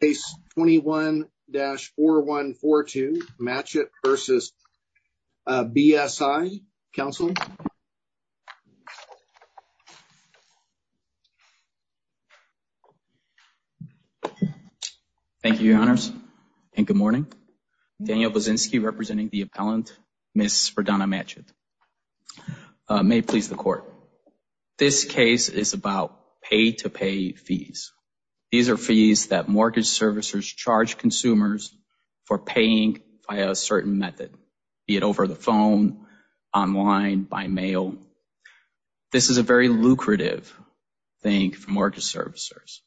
Case 21-4142, Matchett v. BSI. Counsel? Thank you, Your Honors, and good morning. Daniel Bozinski, representing the appellant, Ms. Fredonna Matchett. May it please the Court. This case is about pay-to-pay fees. These are fees that mortgage servicers charge consumers for paying via a certain method, be it over the phone, online, by mail. This is a very lucrative thing for mortgage servicers.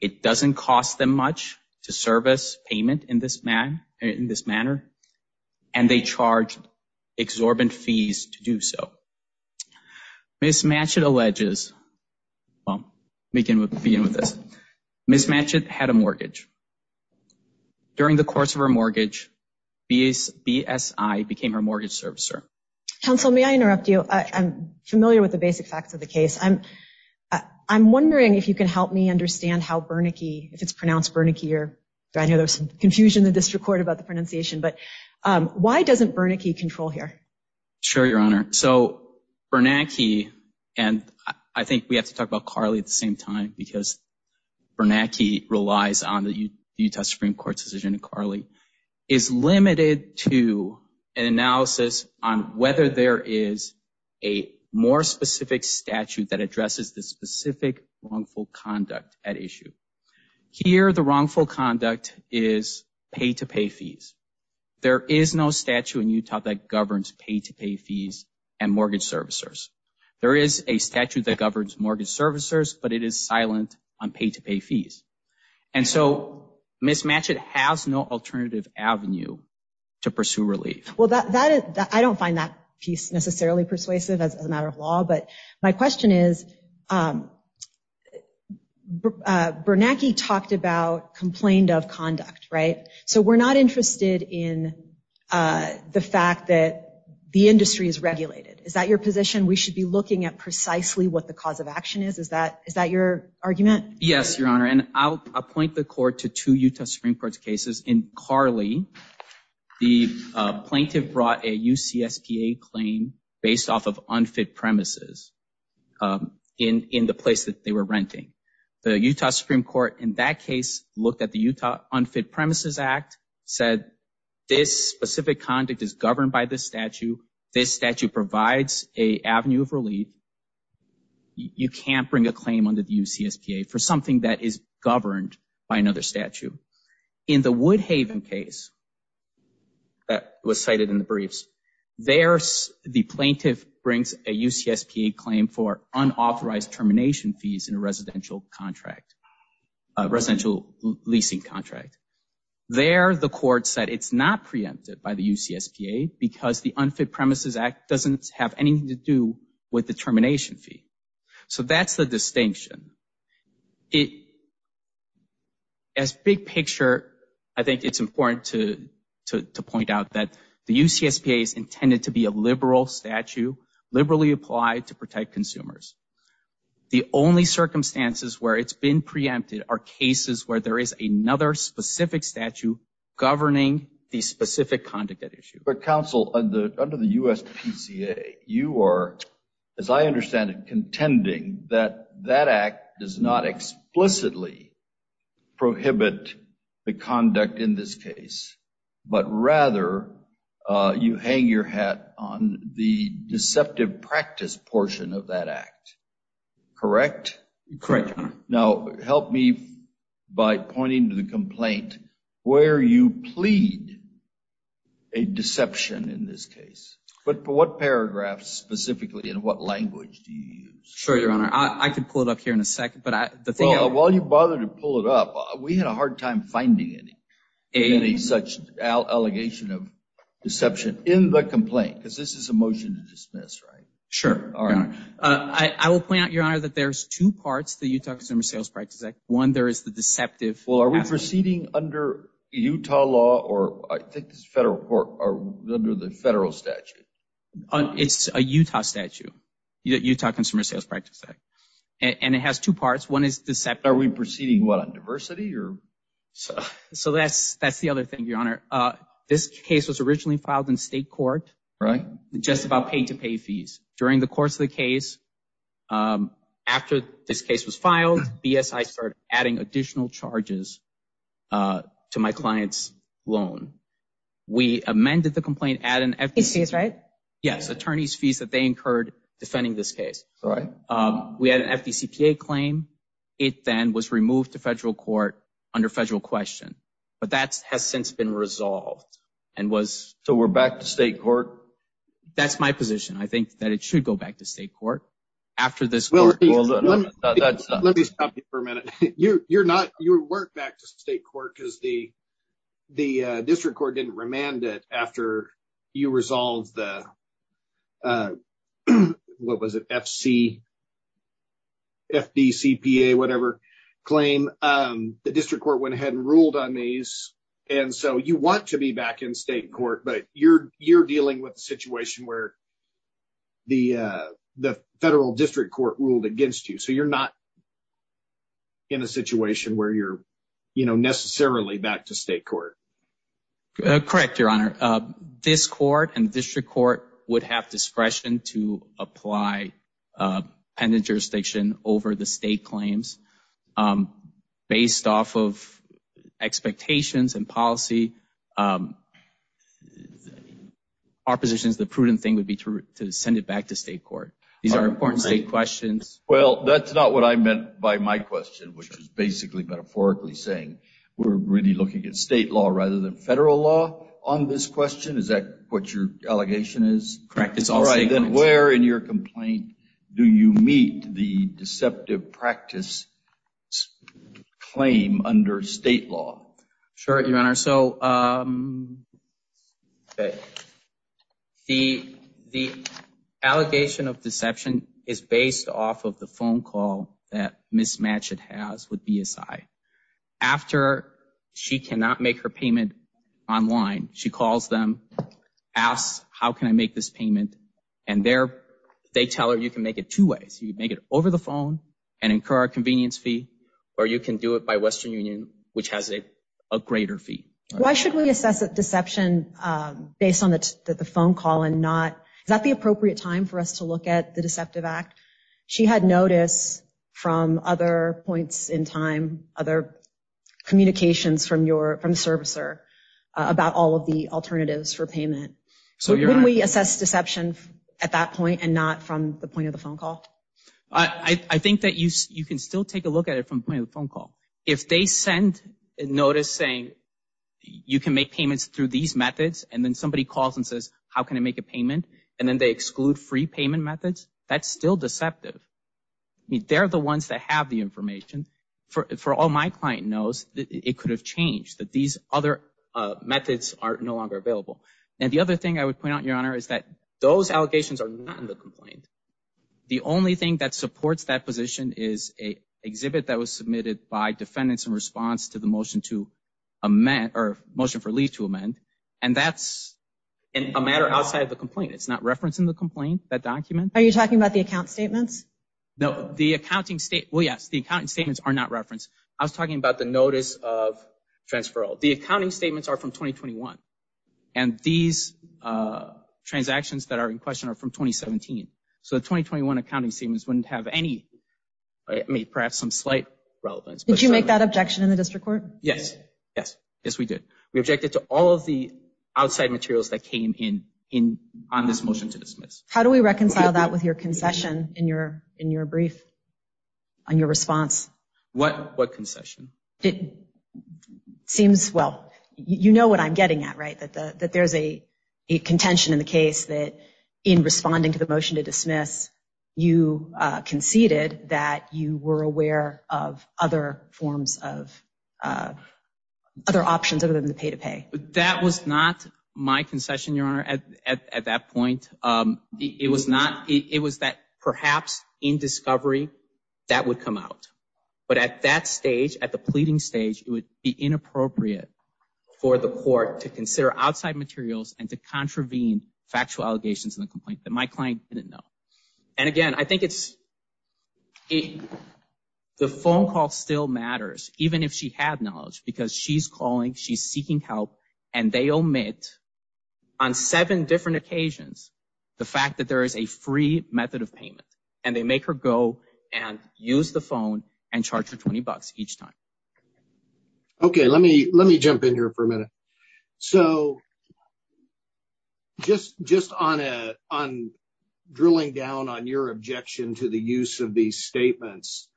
It doesn't cost them much to service payment in this manner, and they charge exorbitant fees to do so. Ms. Matchett alleges, well, we can begin with this. Ms. Matchett had a mortgage. During the course of her mortgage, BSI became her mortgage servicer. Counsel, may I interrupt you? I'm familiar with the basic facts of the case. I'm wondering if you can help me understand how Bernanke, if it's pronounced Bernanke, or I know there's some confusion in the district court about the pronunciation, but why doesn't Bernanke control here? Sure, Your Honor. So Bernanke, and I think we have to talk about Carley at the same time because Bernanke relies on the Utah Supreme Court's decision in Carley, is limited to an analysis on whether there is a more specific statute that addresses the specific wrongful conduct at issue. Here, the wrongful conduct is pay-to-pay fees. There is no statute in Utah that governs pay-to-pay fees and mortgage servicers. There is a statute that governs mortgage servicers, but it is silent on pay-to-pay fees. And so, Ms. Matchett has no alternative avenue to pursue relief. Well, I don't find that piece necessarily persuasive as a matter of law, but my question is, Bernanke talked about complaint of conduct, right? So we're not interested in the fact that the industry is regulated. Is that your position? We should be looking at precisely what the cause of action is. Is that your argument? Yes, Your Honor, and I'll point the court to two Utah Supreme Court's cases. In Carley, the plaintiff brought a UCSPA claim based off of unfit premises in the place that they were renting. The Utah Supreme Court, in that case, looked at the Utah Unfit Premises Act, said this specific conduct is governed by this statute. This statute provides an avenue of relief. You can't bring a claim under the UCSPA for something that is governed by another statute. In the Woodhaven case that was cited in the briefs, there, the plaintiff brings a UCSPA claim for unauthorized termination fees in a residential contract, residential leasing contract. There, the court said it's not preempted by the UCSPA because the Unfit Premises Act doesn't have anything to do with the termination fee. So that's the distinction. As big picture, I think it's important to point out that the UCSPA is intended to be a liberal statute, liberally applied to protect consumers. The only circumstances where it's been preempted are cases where there is another specific statute governing the specific conduct at issue. But counsel, under the USPCA, you are, as I understand it, contending that that act does not explicitly prohibit the conduct in this case, but rather you hang your hat on the deceptive practice portion of that act. Correct, Your Honor. Now, help me by pointing to the complaint where you plead a deception in this case. But what paragraph specifically and what language do you use? Sure, Your Honor. I could pull it up here in a second. But the thing is... While you bother to pull it up, we had a hard time finding any such allegation of deception in the complaint because this is a motion to dismiss, right? Sure, Your Honor. I will point out, Your Honor, that there's two parts to the Utah Consumer Sales Practice Act. One, there is the deceptive... Well, are we proceeding under Utah law or I think it's federal court or under the federal statute? It's a Utah statute, Utah Consumer Sales Practice Act. And it has two parts. One is deceptive. Are we proceeding, what, on diversity or...? So that's the other thing, Your Honor. This case was originally filed in state court. Right. Just about pay-to-pay fees. During the course of the case, after this case was filed, BSI started adding additional charges to my client's loan. We amended the complaint at an... Attorney's fees, right? Yes, attorney's fees that they incurred defending this case. Right. We had an FDCPA claim. It then was removed to federal court under federal question. But that has since been resolved and was... So we're back to state court? That's my position. I think that it should go back to state court after this court... Let me stop you for a minute. You're not... You weren't back to state court because the district court didn't remand it after you resolved the... FDCPA, whatever, claim. The district court went ahead and ruled on these. And so you want to be back in state court. But you're dealing with a situation where the federal district court ruled against you. So you're not in a situation where you're, you know, necessarily back to state court. Correct, Your Honor. This court and district court would have discretion to apply pendant jurisdiction over the state claims. Based off of expectations and policy, our position is the prudent thing would be to send it back to state court. These are important state questions. Well, that's not what I meant by my question, which is basically metaphorically saying we're really looking at state law rather than federal law. On this question, is that what your allegation is? Correct, it's all state law. Then where in your complaint do you meet the deceptive practice claim under state law? Sure, Your Honor. So the allegation of deception is based off of the phone call that Ms. Matchett has with BSI. After she cannot make her payment online, she calls them, asks, how can I make this payment? And they tell her you can make it two ways. You can make it over the phone and incur a convenience fee, or you can do it by Western Union, which has a greater fee. Why should we assess a deception based on the phone call and not, is that the appropriate time for us to look at the deceptive act? She had notice from other points in time, other communications from the servicer about all of the alternatives for payment. So when we assess deception at that point and not from the point of the phone call? I think that you can still take a look at it from the point of the phone call. If they send a notice saying you can make payments through these methods, and then somebody calls and says, how can I make a payment? And then they exclude free payment methods. That's still deceptive. They're the ones that have the information. For all my client knows, it could have changed that these other methods are no longer available. And the other thing I would point out, Your Honor, is that those allegations are not in the complaint. The only thing that supports that position is a exhibit that was submitted by defendants in response to the motion to amend or motion for leave to amend. And that's a matter outside of the complaint. It's not referenced in the complaint, that document. Are you talking about the account statements? No, the accounting state, well, yes, the accounting statements are not referenced. I was talking about the notice of transferral. The accounting statements are from 2021. And these transactions that are in question are from 2017. So the 2021 accounting statements wouldn't have any, I mean, perhaps some slight relevance. Did you make that objection in the district court? Yes. Yes. Yes, we did. We objected to all of the outside materials that came in on this motion to dismiss. How do we reconcile that with your concession in your brief, on your response? What concession? It seems, well, you know what I'm getting at, right, that there's a contention in the case that in responding to the motion to dismiss, you conceded that you were aware of other forms of, other options other than the pay-to-pay. That was not my concession, Your Honor, at that point. It was not, it was that perhaps in discovery, that would come out. But at that stage, at the pleading stage, it would be inappropriate for the court to consider outside materials and to contravene factual allegations in the complaint that my client didn't know. And again, I think it's, the phone call still matters, even if she had knowledge, because she's calling, she's seeking help, and they omit on seven different occasions, the fact that there is a free method of payment. And they make her go and use the phone and charge her 20 bucks each time. Okay, let me, let me jump in here for a minute. So, just, just on a, on drilling down on your objection to the use of these statements.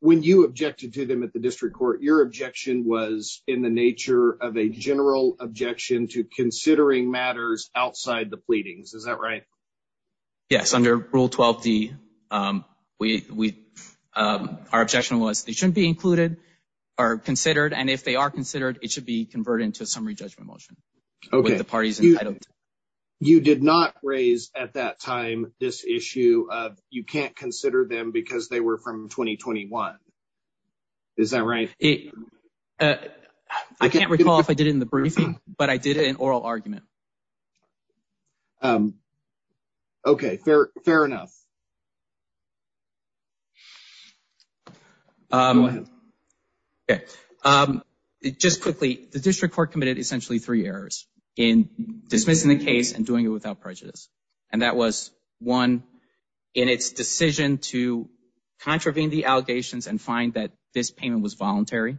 When you objected to them at the district court, your objection was in the nature of a general objection to considering matters outside the pleadings. Is that right? Yes, under Rule 12D, we, our objection was it shouldn't be included or considered. And if they are considered, it should be converted into a summary judgment motion with the parties entitled. You did not raise at that time this issue of you can't consider them because they were from 2021. Is that right? I can't recall if I did it in the briefing, but I did it in oral argument. Okay, fair, fair enough. Go ahead. Okay, just quickly, the district court committed essentially three errors in dismissing the case and doing it without prejudice. And that was one, in its decision to contravene the allegations and find that this payment was voluntary.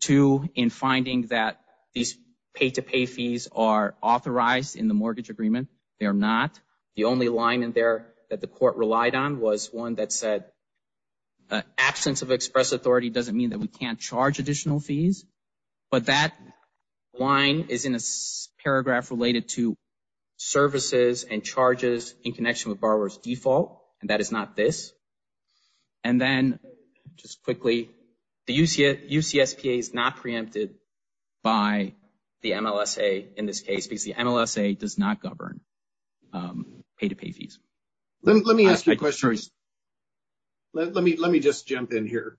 Two, in finding that these pay-to-pay fees are authorized in the mortgage agreement. They are not. The only line in there that the court relied on was one that said absence of express authority doesn't mean that we can't charge additional fees. But that line is in a paragraph related to services and charges in connection with borrower's default. And that is not this. And then, just quickly, the UCSPA is not preempted by the MLSA in this case because the MLSA does not govern pay-to-pay fees. Let me ask you a question. Let me just jump in here.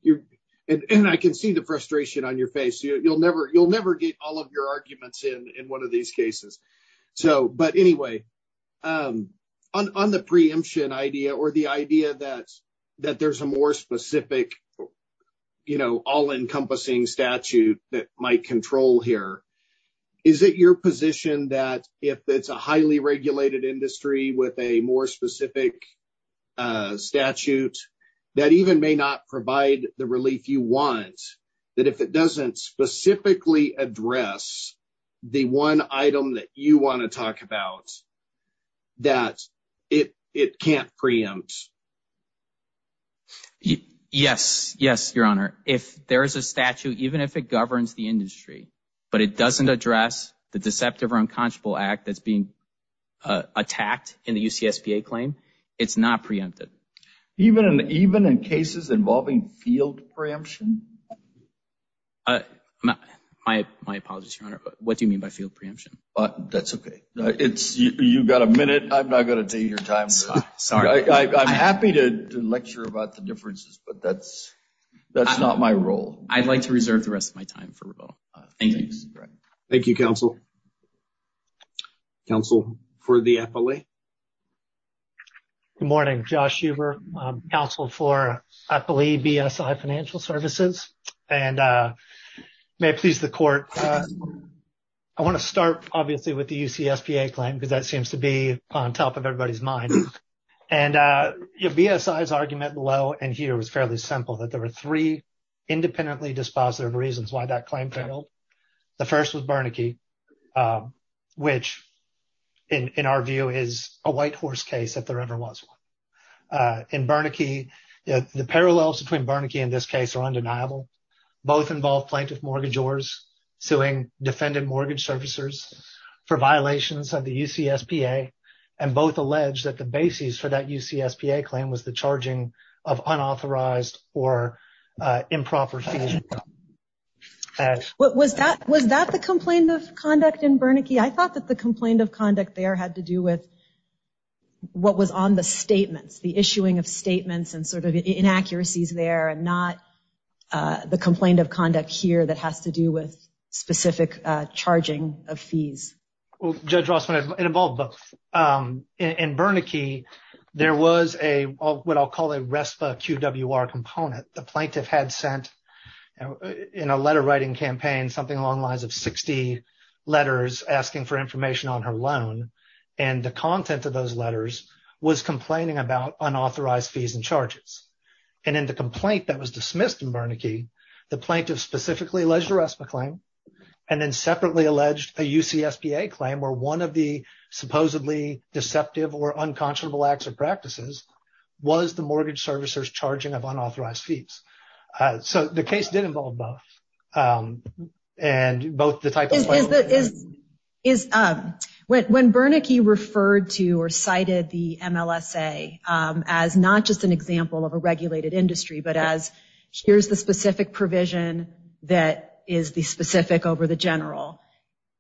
And I can see the frustration on your face. You'll never get all of your arguments in one of these cases. So, but anyway, on the preemption idea or the idea that there's a more specific, you know, all-encompassing statute that might control here. Is it your position that if it's a highly regulated industry with a more specific statute that even may not provide the relief you want? That if it doesn't specifically address the one item that you want to talk about, that it can't preempt? Yes. Yes, Your Honor. If there is a statute, even if it governs the industry, but it doesn't address the deceptive or unconscionable act that's being attacked in the UCSPA claim, it's not preempted. Even in cases involving field preemption? My apologies, Your Honor. What do you mean by field preemption? That's okay. It's, you got a minute. I'm not going to take your time. Sorry. I'm happy to lecture about the differences, but that's not my role. I'd like to reserve the rest of my time for rebuttal. Thank you. Thank you, Counsel. Counsel for the FLA. Good morning, Josh Huber, Counsel for, I believe, BSI Financial Services, and may it please the Court, I want to start, obviously, with the UCSPA claim, because that seems to be on top of everybody's mind, and BSI's argument below and here was fairly simple, that there were three independently dispositive reasons why that claim failed. The first was Bernanke, which, in our view, is a white horse case, if there ever was one. In Bernanke, the parallels between Bernanke and this case are undeniable. Both involve plaintiff mortgagors suing defendant mortgage servicers for violations of the UCSPA, and both allege that the basis for that UCSPA claim was the charging of unauthorized or improper financial. Was that the complaint of conduct in Bernanke? I thought that the complaint of conduct there had to do with what was on the statements, the issuing of statements and sort of inaccuracies there, and not the complaint of conduct here that has to do with specific charging of fees. Well, Judge Rossman, it involved both. In Bernanke, there was what I'll call a RESPA QWR component. The plaintiff had sent, in a letter writing campaign, something along the lines of 60 letters asking for information on her loan, and the content of those letters was complaining about unauthorized fees and charges. And in the complaint that was dismissed in Bernanke, the plaintiff specifically alleged RESPA claim and then separately alleged a UCSPA claim where one of the supposedly deceptive or unconscionable acts or practices was the mortgage servicers charging of unauthorized fees. So, the case did involve both, and both the type of plaintiff and... Is, when Bernanke referred to or cited the MLSA as not just an example of a regulated industry, but as here's the specific provision that is the specific over the general,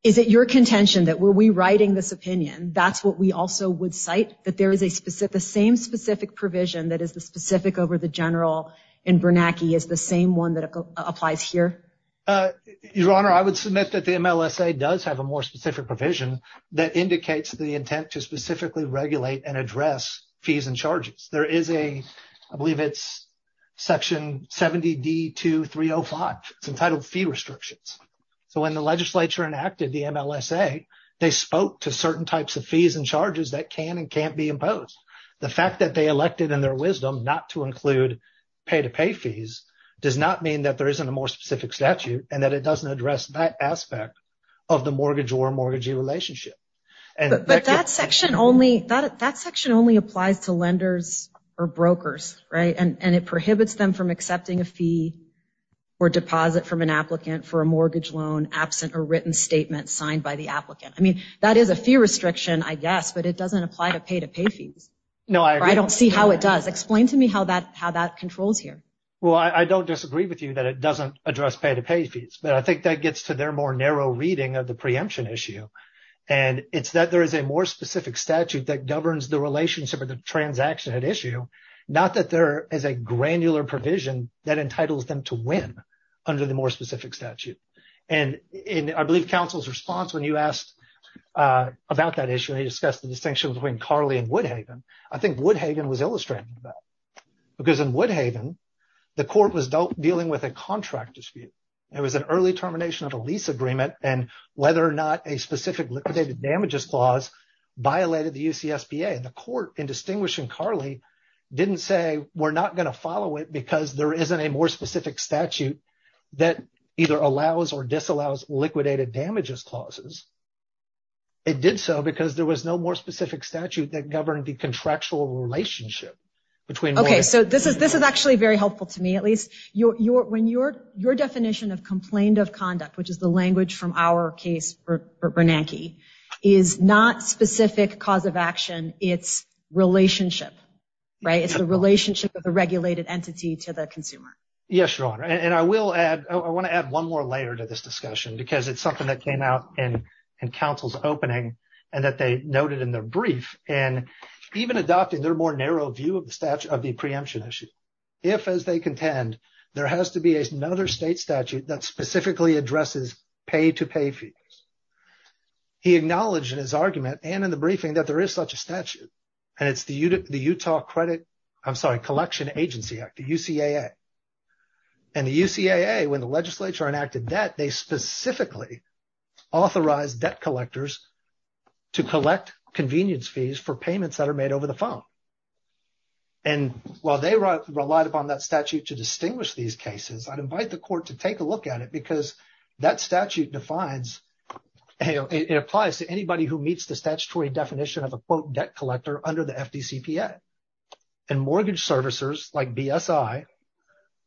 is it your contention that were we writing this opinion, that's what we also would cite? That there is a specific, the same specific provision that is the specific over the general in Bernanke is the same one that applies here? Your Honor, I would submit that the MLSA does have a more specific provision that indicates the intent to specifically regulate and address fees and charges. There is a, I believe it's section 70D2305. It's entitled fee restrictions. So, when the legislature enacted the MLSA, they spoke to certain types of fees and charges that can and can't be imposed. The fact that they elected in their wisdom not to include pay-to-pay fees does not mean that there isn't a more specific statute and that it doesn't address that aspect of the mortgage or mortgagee relationship. But that section only, that section only applies to lenders or brokers, right? And it prohibits them from accepting a fee or deposit from an applicant for a mortgage loan absent a written statement signed by the applicant. I mean, that is a fee restriction, I guess, but it doesn't apply to pay-to-pay fees. No, I don't see how it does. Explain to me how that controls here. Well, I don't disagree with you that it doesn't address pay-to-pay fees, but I think that gets to their more narrow reading of the preemption issue. And it's that there is a more specific statute that governs the relationship or the transaction at issue. Not that there is a granular provision that entitles them to win under the more specific statute. And in, I believe, counsel's response when you asked about that issue, they discussed the distinction between Carly and Woodhaven. I think Woodhaven was illustrating that because in Woodhaven, the court was dealing with a contract dispute. It was an early termination of a lease agreement. And whether or not a specific liquidated damages clause violated the UCSBA. The court, in distinguishing Carly, didn't say, we're not going to follow it because there isn't a more specific statute that either allows or disallows liquidated damages clauses. It did so because there was no more specific statute that governed the contractual relationship. Okay, so this is actually very helpful to me, at least. Your definition of complained of conduct, which is the language from our case for Bernanke, is not specific cause of action. It's relationship, right? It's the relationship of the regulated entity to the consumer. Yes, Your Honor. And I will add, I want to add one more layer to this discussion because it's something that came out in counsel's opening and that they noted in their brief. And even adopting their more narrow view of the statute of the preemption issue. If, as they contend, there has to be another state statute that specifically addresses pay-to-pay fees. He acknowledged in his argument and in the briefing that there is such a statute and it's the Utah Credit, I'm sorry, Collection Agency Act, the UCAA. And the UCAA, when the legislature enacted that, they specifically authorized debt collectors to collect convenience fees for payments that are made over the phone. And while they relied upon that statute to distinguish these cases, I'd invite the court to take a look at it because that statute defines, it applies to anybody who meets the statutory definition of a quote debt collector under the FDCPA. And mortgage servicers like BSI,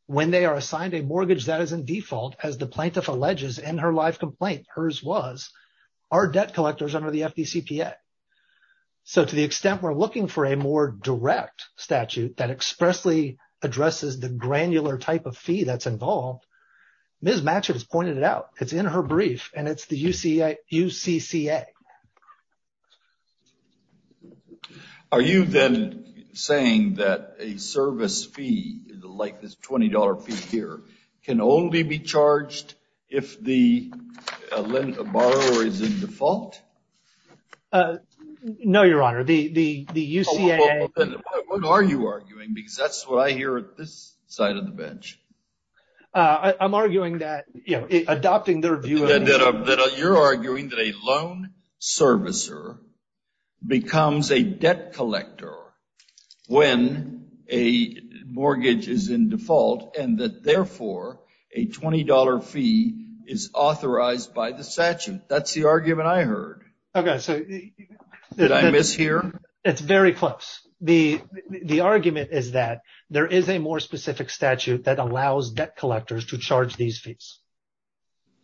when they are assigned a mortgage that is in default, as the plaintiff alleges in her live complaint, hers was, are debt collectors under the FDCPA. So to the extent we're looking for a more direct statute that expressly addresses the granular type of fee that's involved, Ms. Matchett has pointed it out. It's in her brief and it's the UCCA. Are you then saying that a service fee, like this $20 fee here, can only be charged if the borrower is in default? No, Your Honor. The UCAA... What are you arguing? Because that's what I hear at this side of the bench. I'm arguing that, you know, adopting their view... You're arguing that a loan servicer becomes a debt collector when a mortgage is in default and that, therefore, a $20 fee is authorized by the statute. That's the argument I heard. Okay, so... Did I miss here? It's very close. The argument is that there is a more specific statute that allows debt collectors to charge these fees.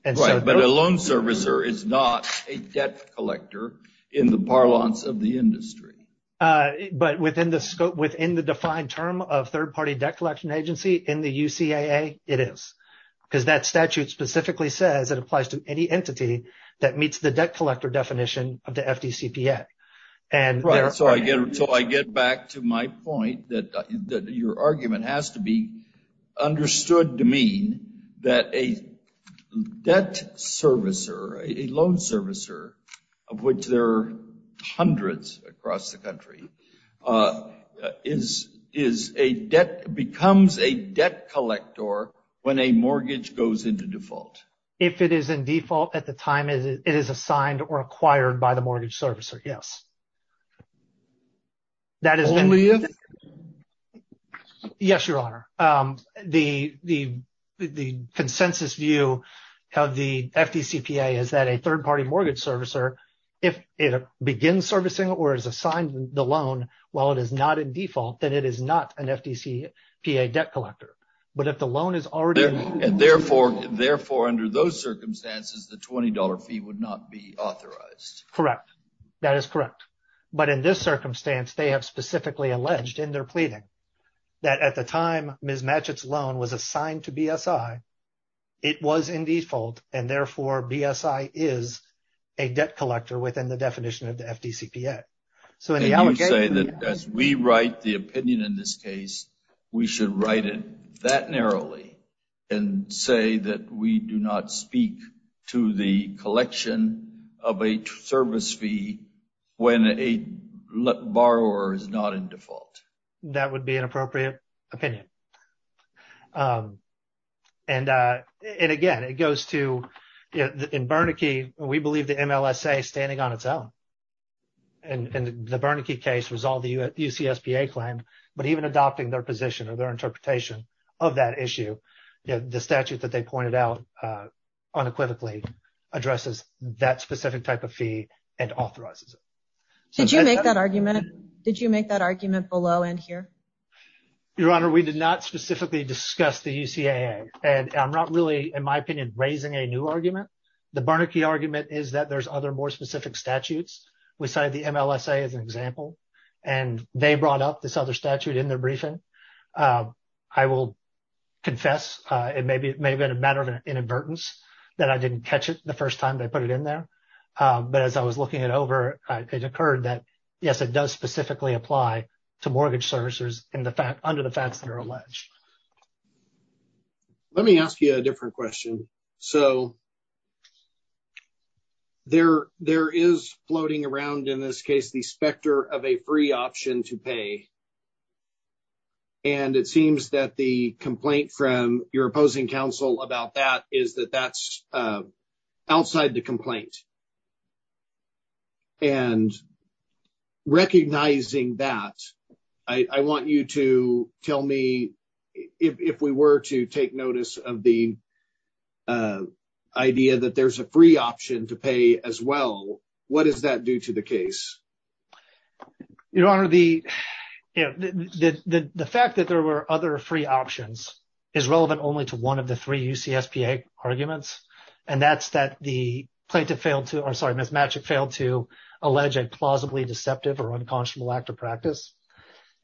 Right, but a loan servicer is not a debt collector in the parlance of the industry. But within the scope, within the defined term of third-party debt collection agency in the UCAA, it is. Because that statute specifically says it applies to any entity that meets the debt collector definition of the FDCPA. Right, so I get back to my point that your argument has to be understood to mean that a debt servicer, a loan servicer, of which there are hundreds across the country, becomes a debt collector when a mortgage goes into default. If it is in default at the time it is assigned or acquired by the mortgage servicer, yes. Only if? Yes, Your Honor. The consensus view of the FDCPA is that a third-party mortgage servicer, if it begins servicing or is assigned the loan while it is not in default, then it is not an FDCPA debt collector. But if the loan is already... And therefore, under those circumstances, the $20 fee would not be authorized. Correct, that is correct. But in this circumstance, they have specifically alleged in their pleading that at the time Ms. Matchett's loan was assigned to BSI, it was in default, and therefore BSI is a debt collector within the definition of the FDCPA. And you say that as we write the opinion in this case, we should write it that narrowly and say that we do not speak to the collection of a service fee when a borrower is not in default. That would be an appropriate opinion. And again, it goes to, in Bernanke, we believe the MLSA standing on its own, and the Bernanke case resolved the UCSPA claim, but even adopting their position or their interpretation of that issue, the statute that they pointed out unequivocally addresses that specific type of fee and authorizes it. Did you make that argument below and here? Your Honor, we did not specifically discuss the UCAA, and I'm not really, in my opinion, raising a new argument. The Bernanke argument is that there's other more specific statutes. We cited the MLSA as an example, and they brought up this other statute in their briefing. I will confess it may have been a matter of inadvertence that I didn't catch it the first time they put it in there. But as I was looking it over, it occurred that, yes, it does specifically apply to mortgage servicers under the facts that are alleged. Let me ask you a different question. So, there is floating around in this case the specter of a free option to pay. And it seems that the complaint from your opposing counsel about that is that that's outside the complaint. And recognizing that, I want you to tell me, if we were to take notice of the idea that there's a free option to pay as well, what does that do to the case? Your Honor, the fact that there were other free options is relevant only to one of the three UCSPA arguments. And that's that the plaintiff failed to, I'm sorry, Ms. Matchick failed to allege a plausibly deceptive or unconscionable act of practice.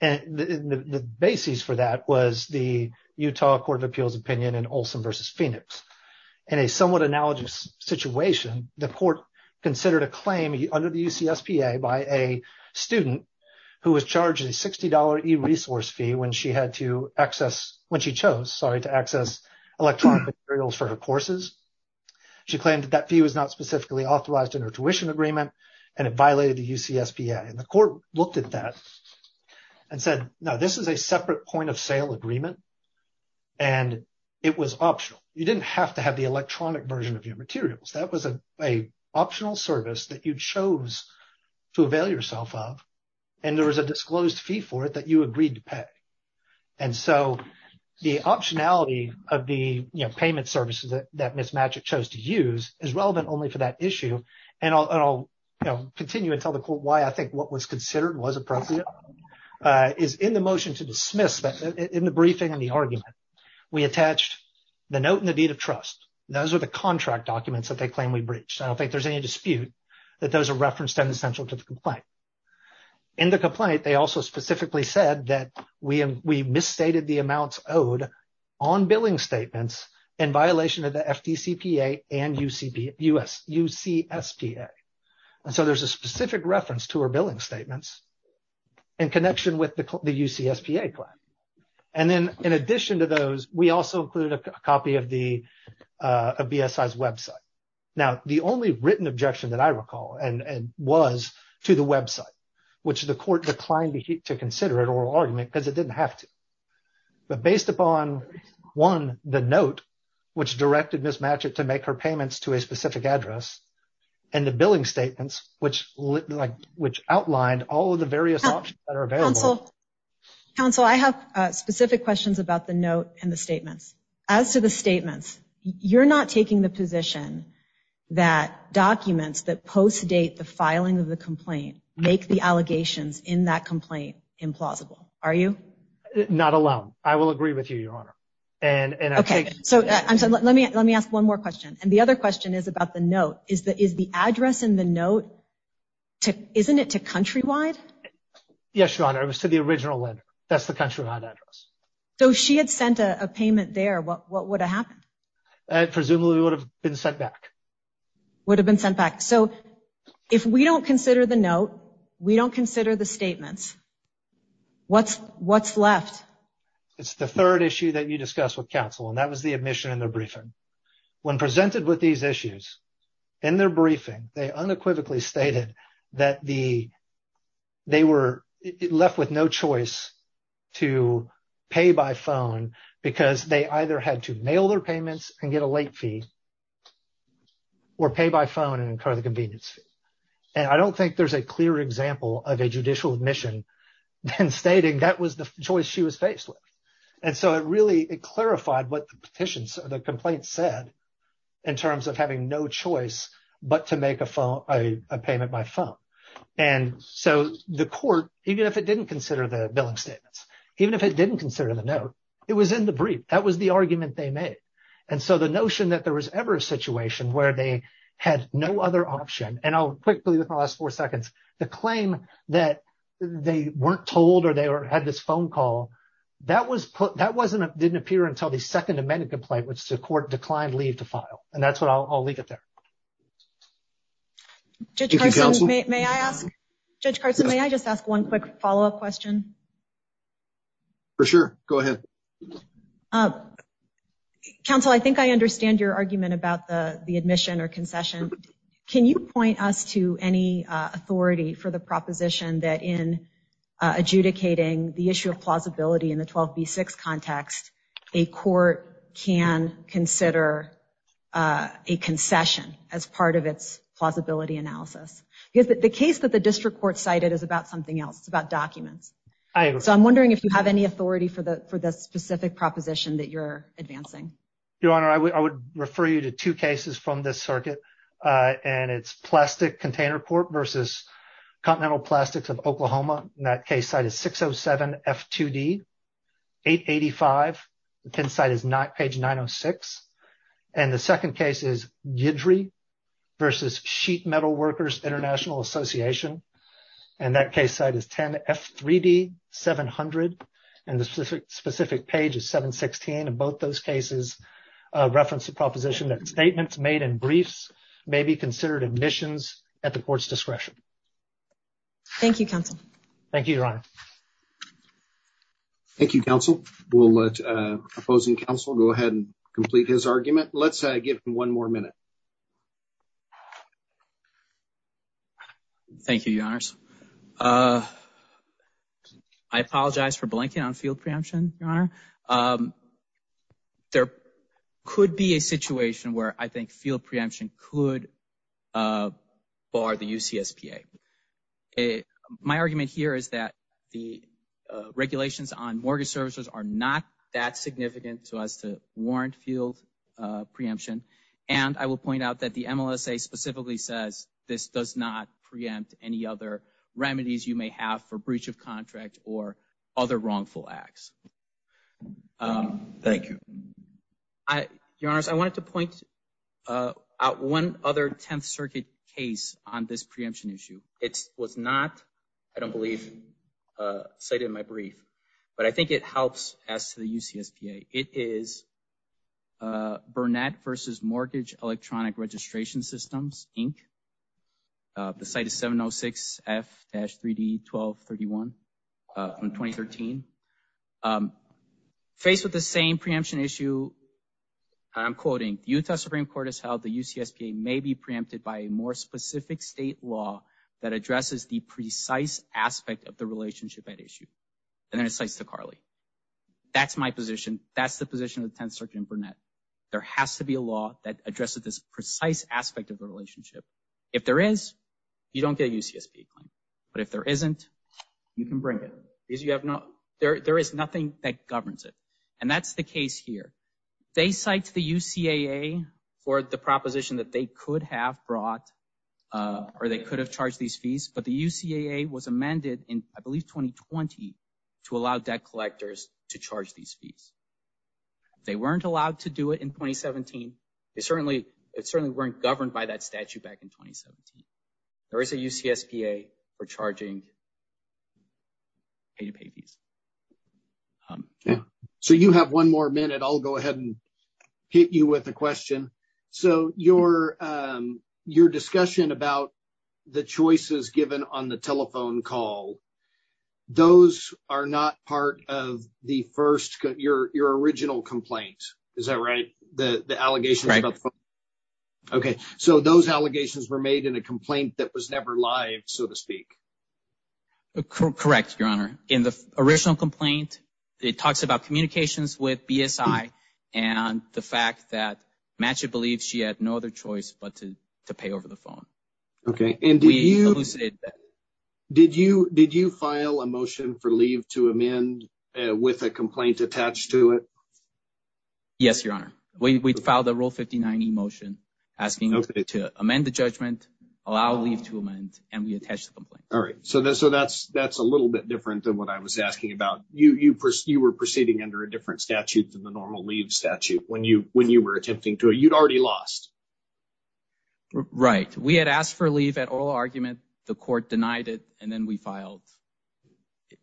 And the basis for that was the Utah Court of Appeals opinion in Olson v. Phoenix. In a somewhat analogous situation, the court considered a claim under the UCSPA by a student who was charged a $60 e-resource fee when she chose to access electronic materials for her courses. She claimed that that fee was not specifically authorized in her tuition agreement and it violated the UCSPA. And the court looked at that and said, no, this is a separate point of sale agreement. And it was optional. You didn't have to have the electronic version of your materials. That was an optional service that you chose to avail yourself of. And there was a disclosed fee for it that you agreed to pay. And so the optionality of the payment services that Ms. Matchick chose to use is relevant only for that issue. And I'll continue and tell the court why I think what was considered was appropriate. In the motion to dismiss, in the briefing and the argument, we attached the note and the deed of trust. Those are the contract documents that they claim we breached. I don't think there's any dispute that those are referenced and essential to the complaint. In the complaint, they also specifically said that we misstated the amounts owed on billing statements in violation of the FDCPA and UCSPA. And so there's a specific reference to our billing statements in connection with the UCSPA plan. And then in addition to those, we also included a copy of the BSI's website. Now, the only written objection that I recall was to the website, which the court declined to consider an oral argument because it didn't have to. But based upon, one, the note, which directed Ms. Matchick to make her payments to a specific address, and the billing statements, which outlined all of the various options that are available. Counsel, I have specific questions about the note and the statements. As to the statements, you're not taking the position that documents that post-date the filing of the complaint make the allegations in that complaint implausible, are you? Not alone. I will agree with you, Your Honor. Okay. So let me ask one more question. And the other question is about the note. Is the address in the note, isn't it to Countrywide? Yes, Your Honor. It was to the original lender. That's the Countrywide address. So if she had sent a payment there, what would have happened? Presumably, it would have been sent back. Would have been sent back. So if we don't consider the note, we don't consider the statements, what's left? It's the third issue that you discussed with counsel, and that was the admission in their briefing. When presented with these issues, in their briefing, they unequivocally stated that they were left with no choice to pay by phone because they either had to mail their payments and get a late fee or pay by phone and incur the convenience fee. And I don't think there's a clear example of a judicial admission then stating that was the choice she was faced with. And so it really, it clarified what the petitions, the complaint said in terms of having no choice but to make a payment by phone. And so the court, even if it didn't consider the billing statements, even if it didn't consider the note, it was in the brief. That was the argument they made. And so the notion that there was ever a situation where they had no other option. And I'll quickly, in the last four seconds, the claim that they weren't told or they had this phone call, that didn't appear until the Second Amendment complaint, which the court declined leave to file. And that's what I'll leave it there. Judge Carson, may I ask, Judge Carson, may I just ask one quick follow up question? For sure. Go ahead. Counsel, I think I understand your argument about the admission or concession. Can you point us to any authority for the proposition that in adjudicating the issue of plausibility in the 12B6 context, a court can consider a concession as part of its plausibility analysis? Because the case that the district court cited is about something else. It's about documents. So I'm wondering if you have any authority for the specific proposition that you're advancing. Your Honor, I would refer you to two cases from this circuit. And it's plastic container court versus Continental Plastics of Oklahoma. And that case site is 607 F2D 885. The pen site is not page 906. And the second case is Guidry versus Sheet Metal Workers International Association. And that case site is 10 F3D 700. And the specific page is 716. And both those cases reference the proposition that statements made in briefs may be considered admissions at the court's discretion. Thank you, Counsel. Thank you, Your Honor. Thank you, Counsel. We'll let opposing counsel go ahead and complete his argument. Let's give him one more minute. Thank you, Your Honors. I apologize for blinking on field preemption, Your Honor. There could be a situation where I think field preemption could bar the UCSPA. My argument here is that the regulations on mortgage services are not that significant as to warrant field preemption. And I will point out that the MLSA specifically says this does not preempt any other remedies you may have for breach of contract or other wrongful acts. Thank you. Your Honors, I wanted to point out one other Tenth Circuit case on this preemption issue. It was not, I don't believe, cited in my brief. But I think it helps as to the UCSPA. It is Burnett versus Mortgage Electronic Registration Systems, Inc. The site is 706F-3D1231 from 2013. Faced with the same preemption issue, and I'm quoting, Utah Supreme Court has held the UCSPA may be preempted by a more specific state law that addresses the precise aspect of the relationship at issue. And then it cites DeCarli. That's my position. That's the position of the Tenth Circuit and Burnett. There has to be a law that addresses this precise aspect of the relationship. If there is, you don't get a UCSPA claim. But if there isn't, you can bring it. There is nothing that governs it. And that's the case here. They cite the UCAA for the proposition that they could have brought or they could have charged these fees. But the UCAA was amended in, I believe, 2020 to allow debt collectors to charge these fees. They weren't allowed to do it in 2017. It certainly weren't governed by that statute back in 2017. There is a UCSPA for charging pay-to-pay fees. So you have one more minute. I'll go ahead and hit you with a question. So your discussion about the choices given on the telephone call, those are not part of the first, your original complaint. Is that right? The allegations about the phone call? Okay. So those allegations were made in a complaint that was never live, so to speak. Correct, Your Honor. In the original complaint, it talks about communications with BSI and the fact that Matchett believed she had no other choice but to pay over the phone. Okay. We elucidated that. Did you file a motion for leave to amend with a complaint attached to it? Yes, Your Honor. We filed a Rule 59e motion asking to amend the judgment, allow leave to amend, and we attached the complaint. All right. So that's a little bit different than what I was asking about. You were proceeding under a different statute than the normal leave statute when you were attempting to. You'd already lost. Right. We had asked for leave at oral argument. The court denied it, and then we filed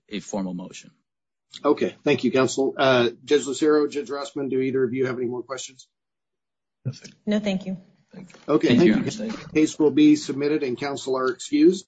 a formal motion. Okay. Thank you, counsel. Judge Lucero, Judge Rossman, do either of you have any more questions? No, thank you. Okay. Thank you, Your Honor. The case will be submitted and counsel are excused.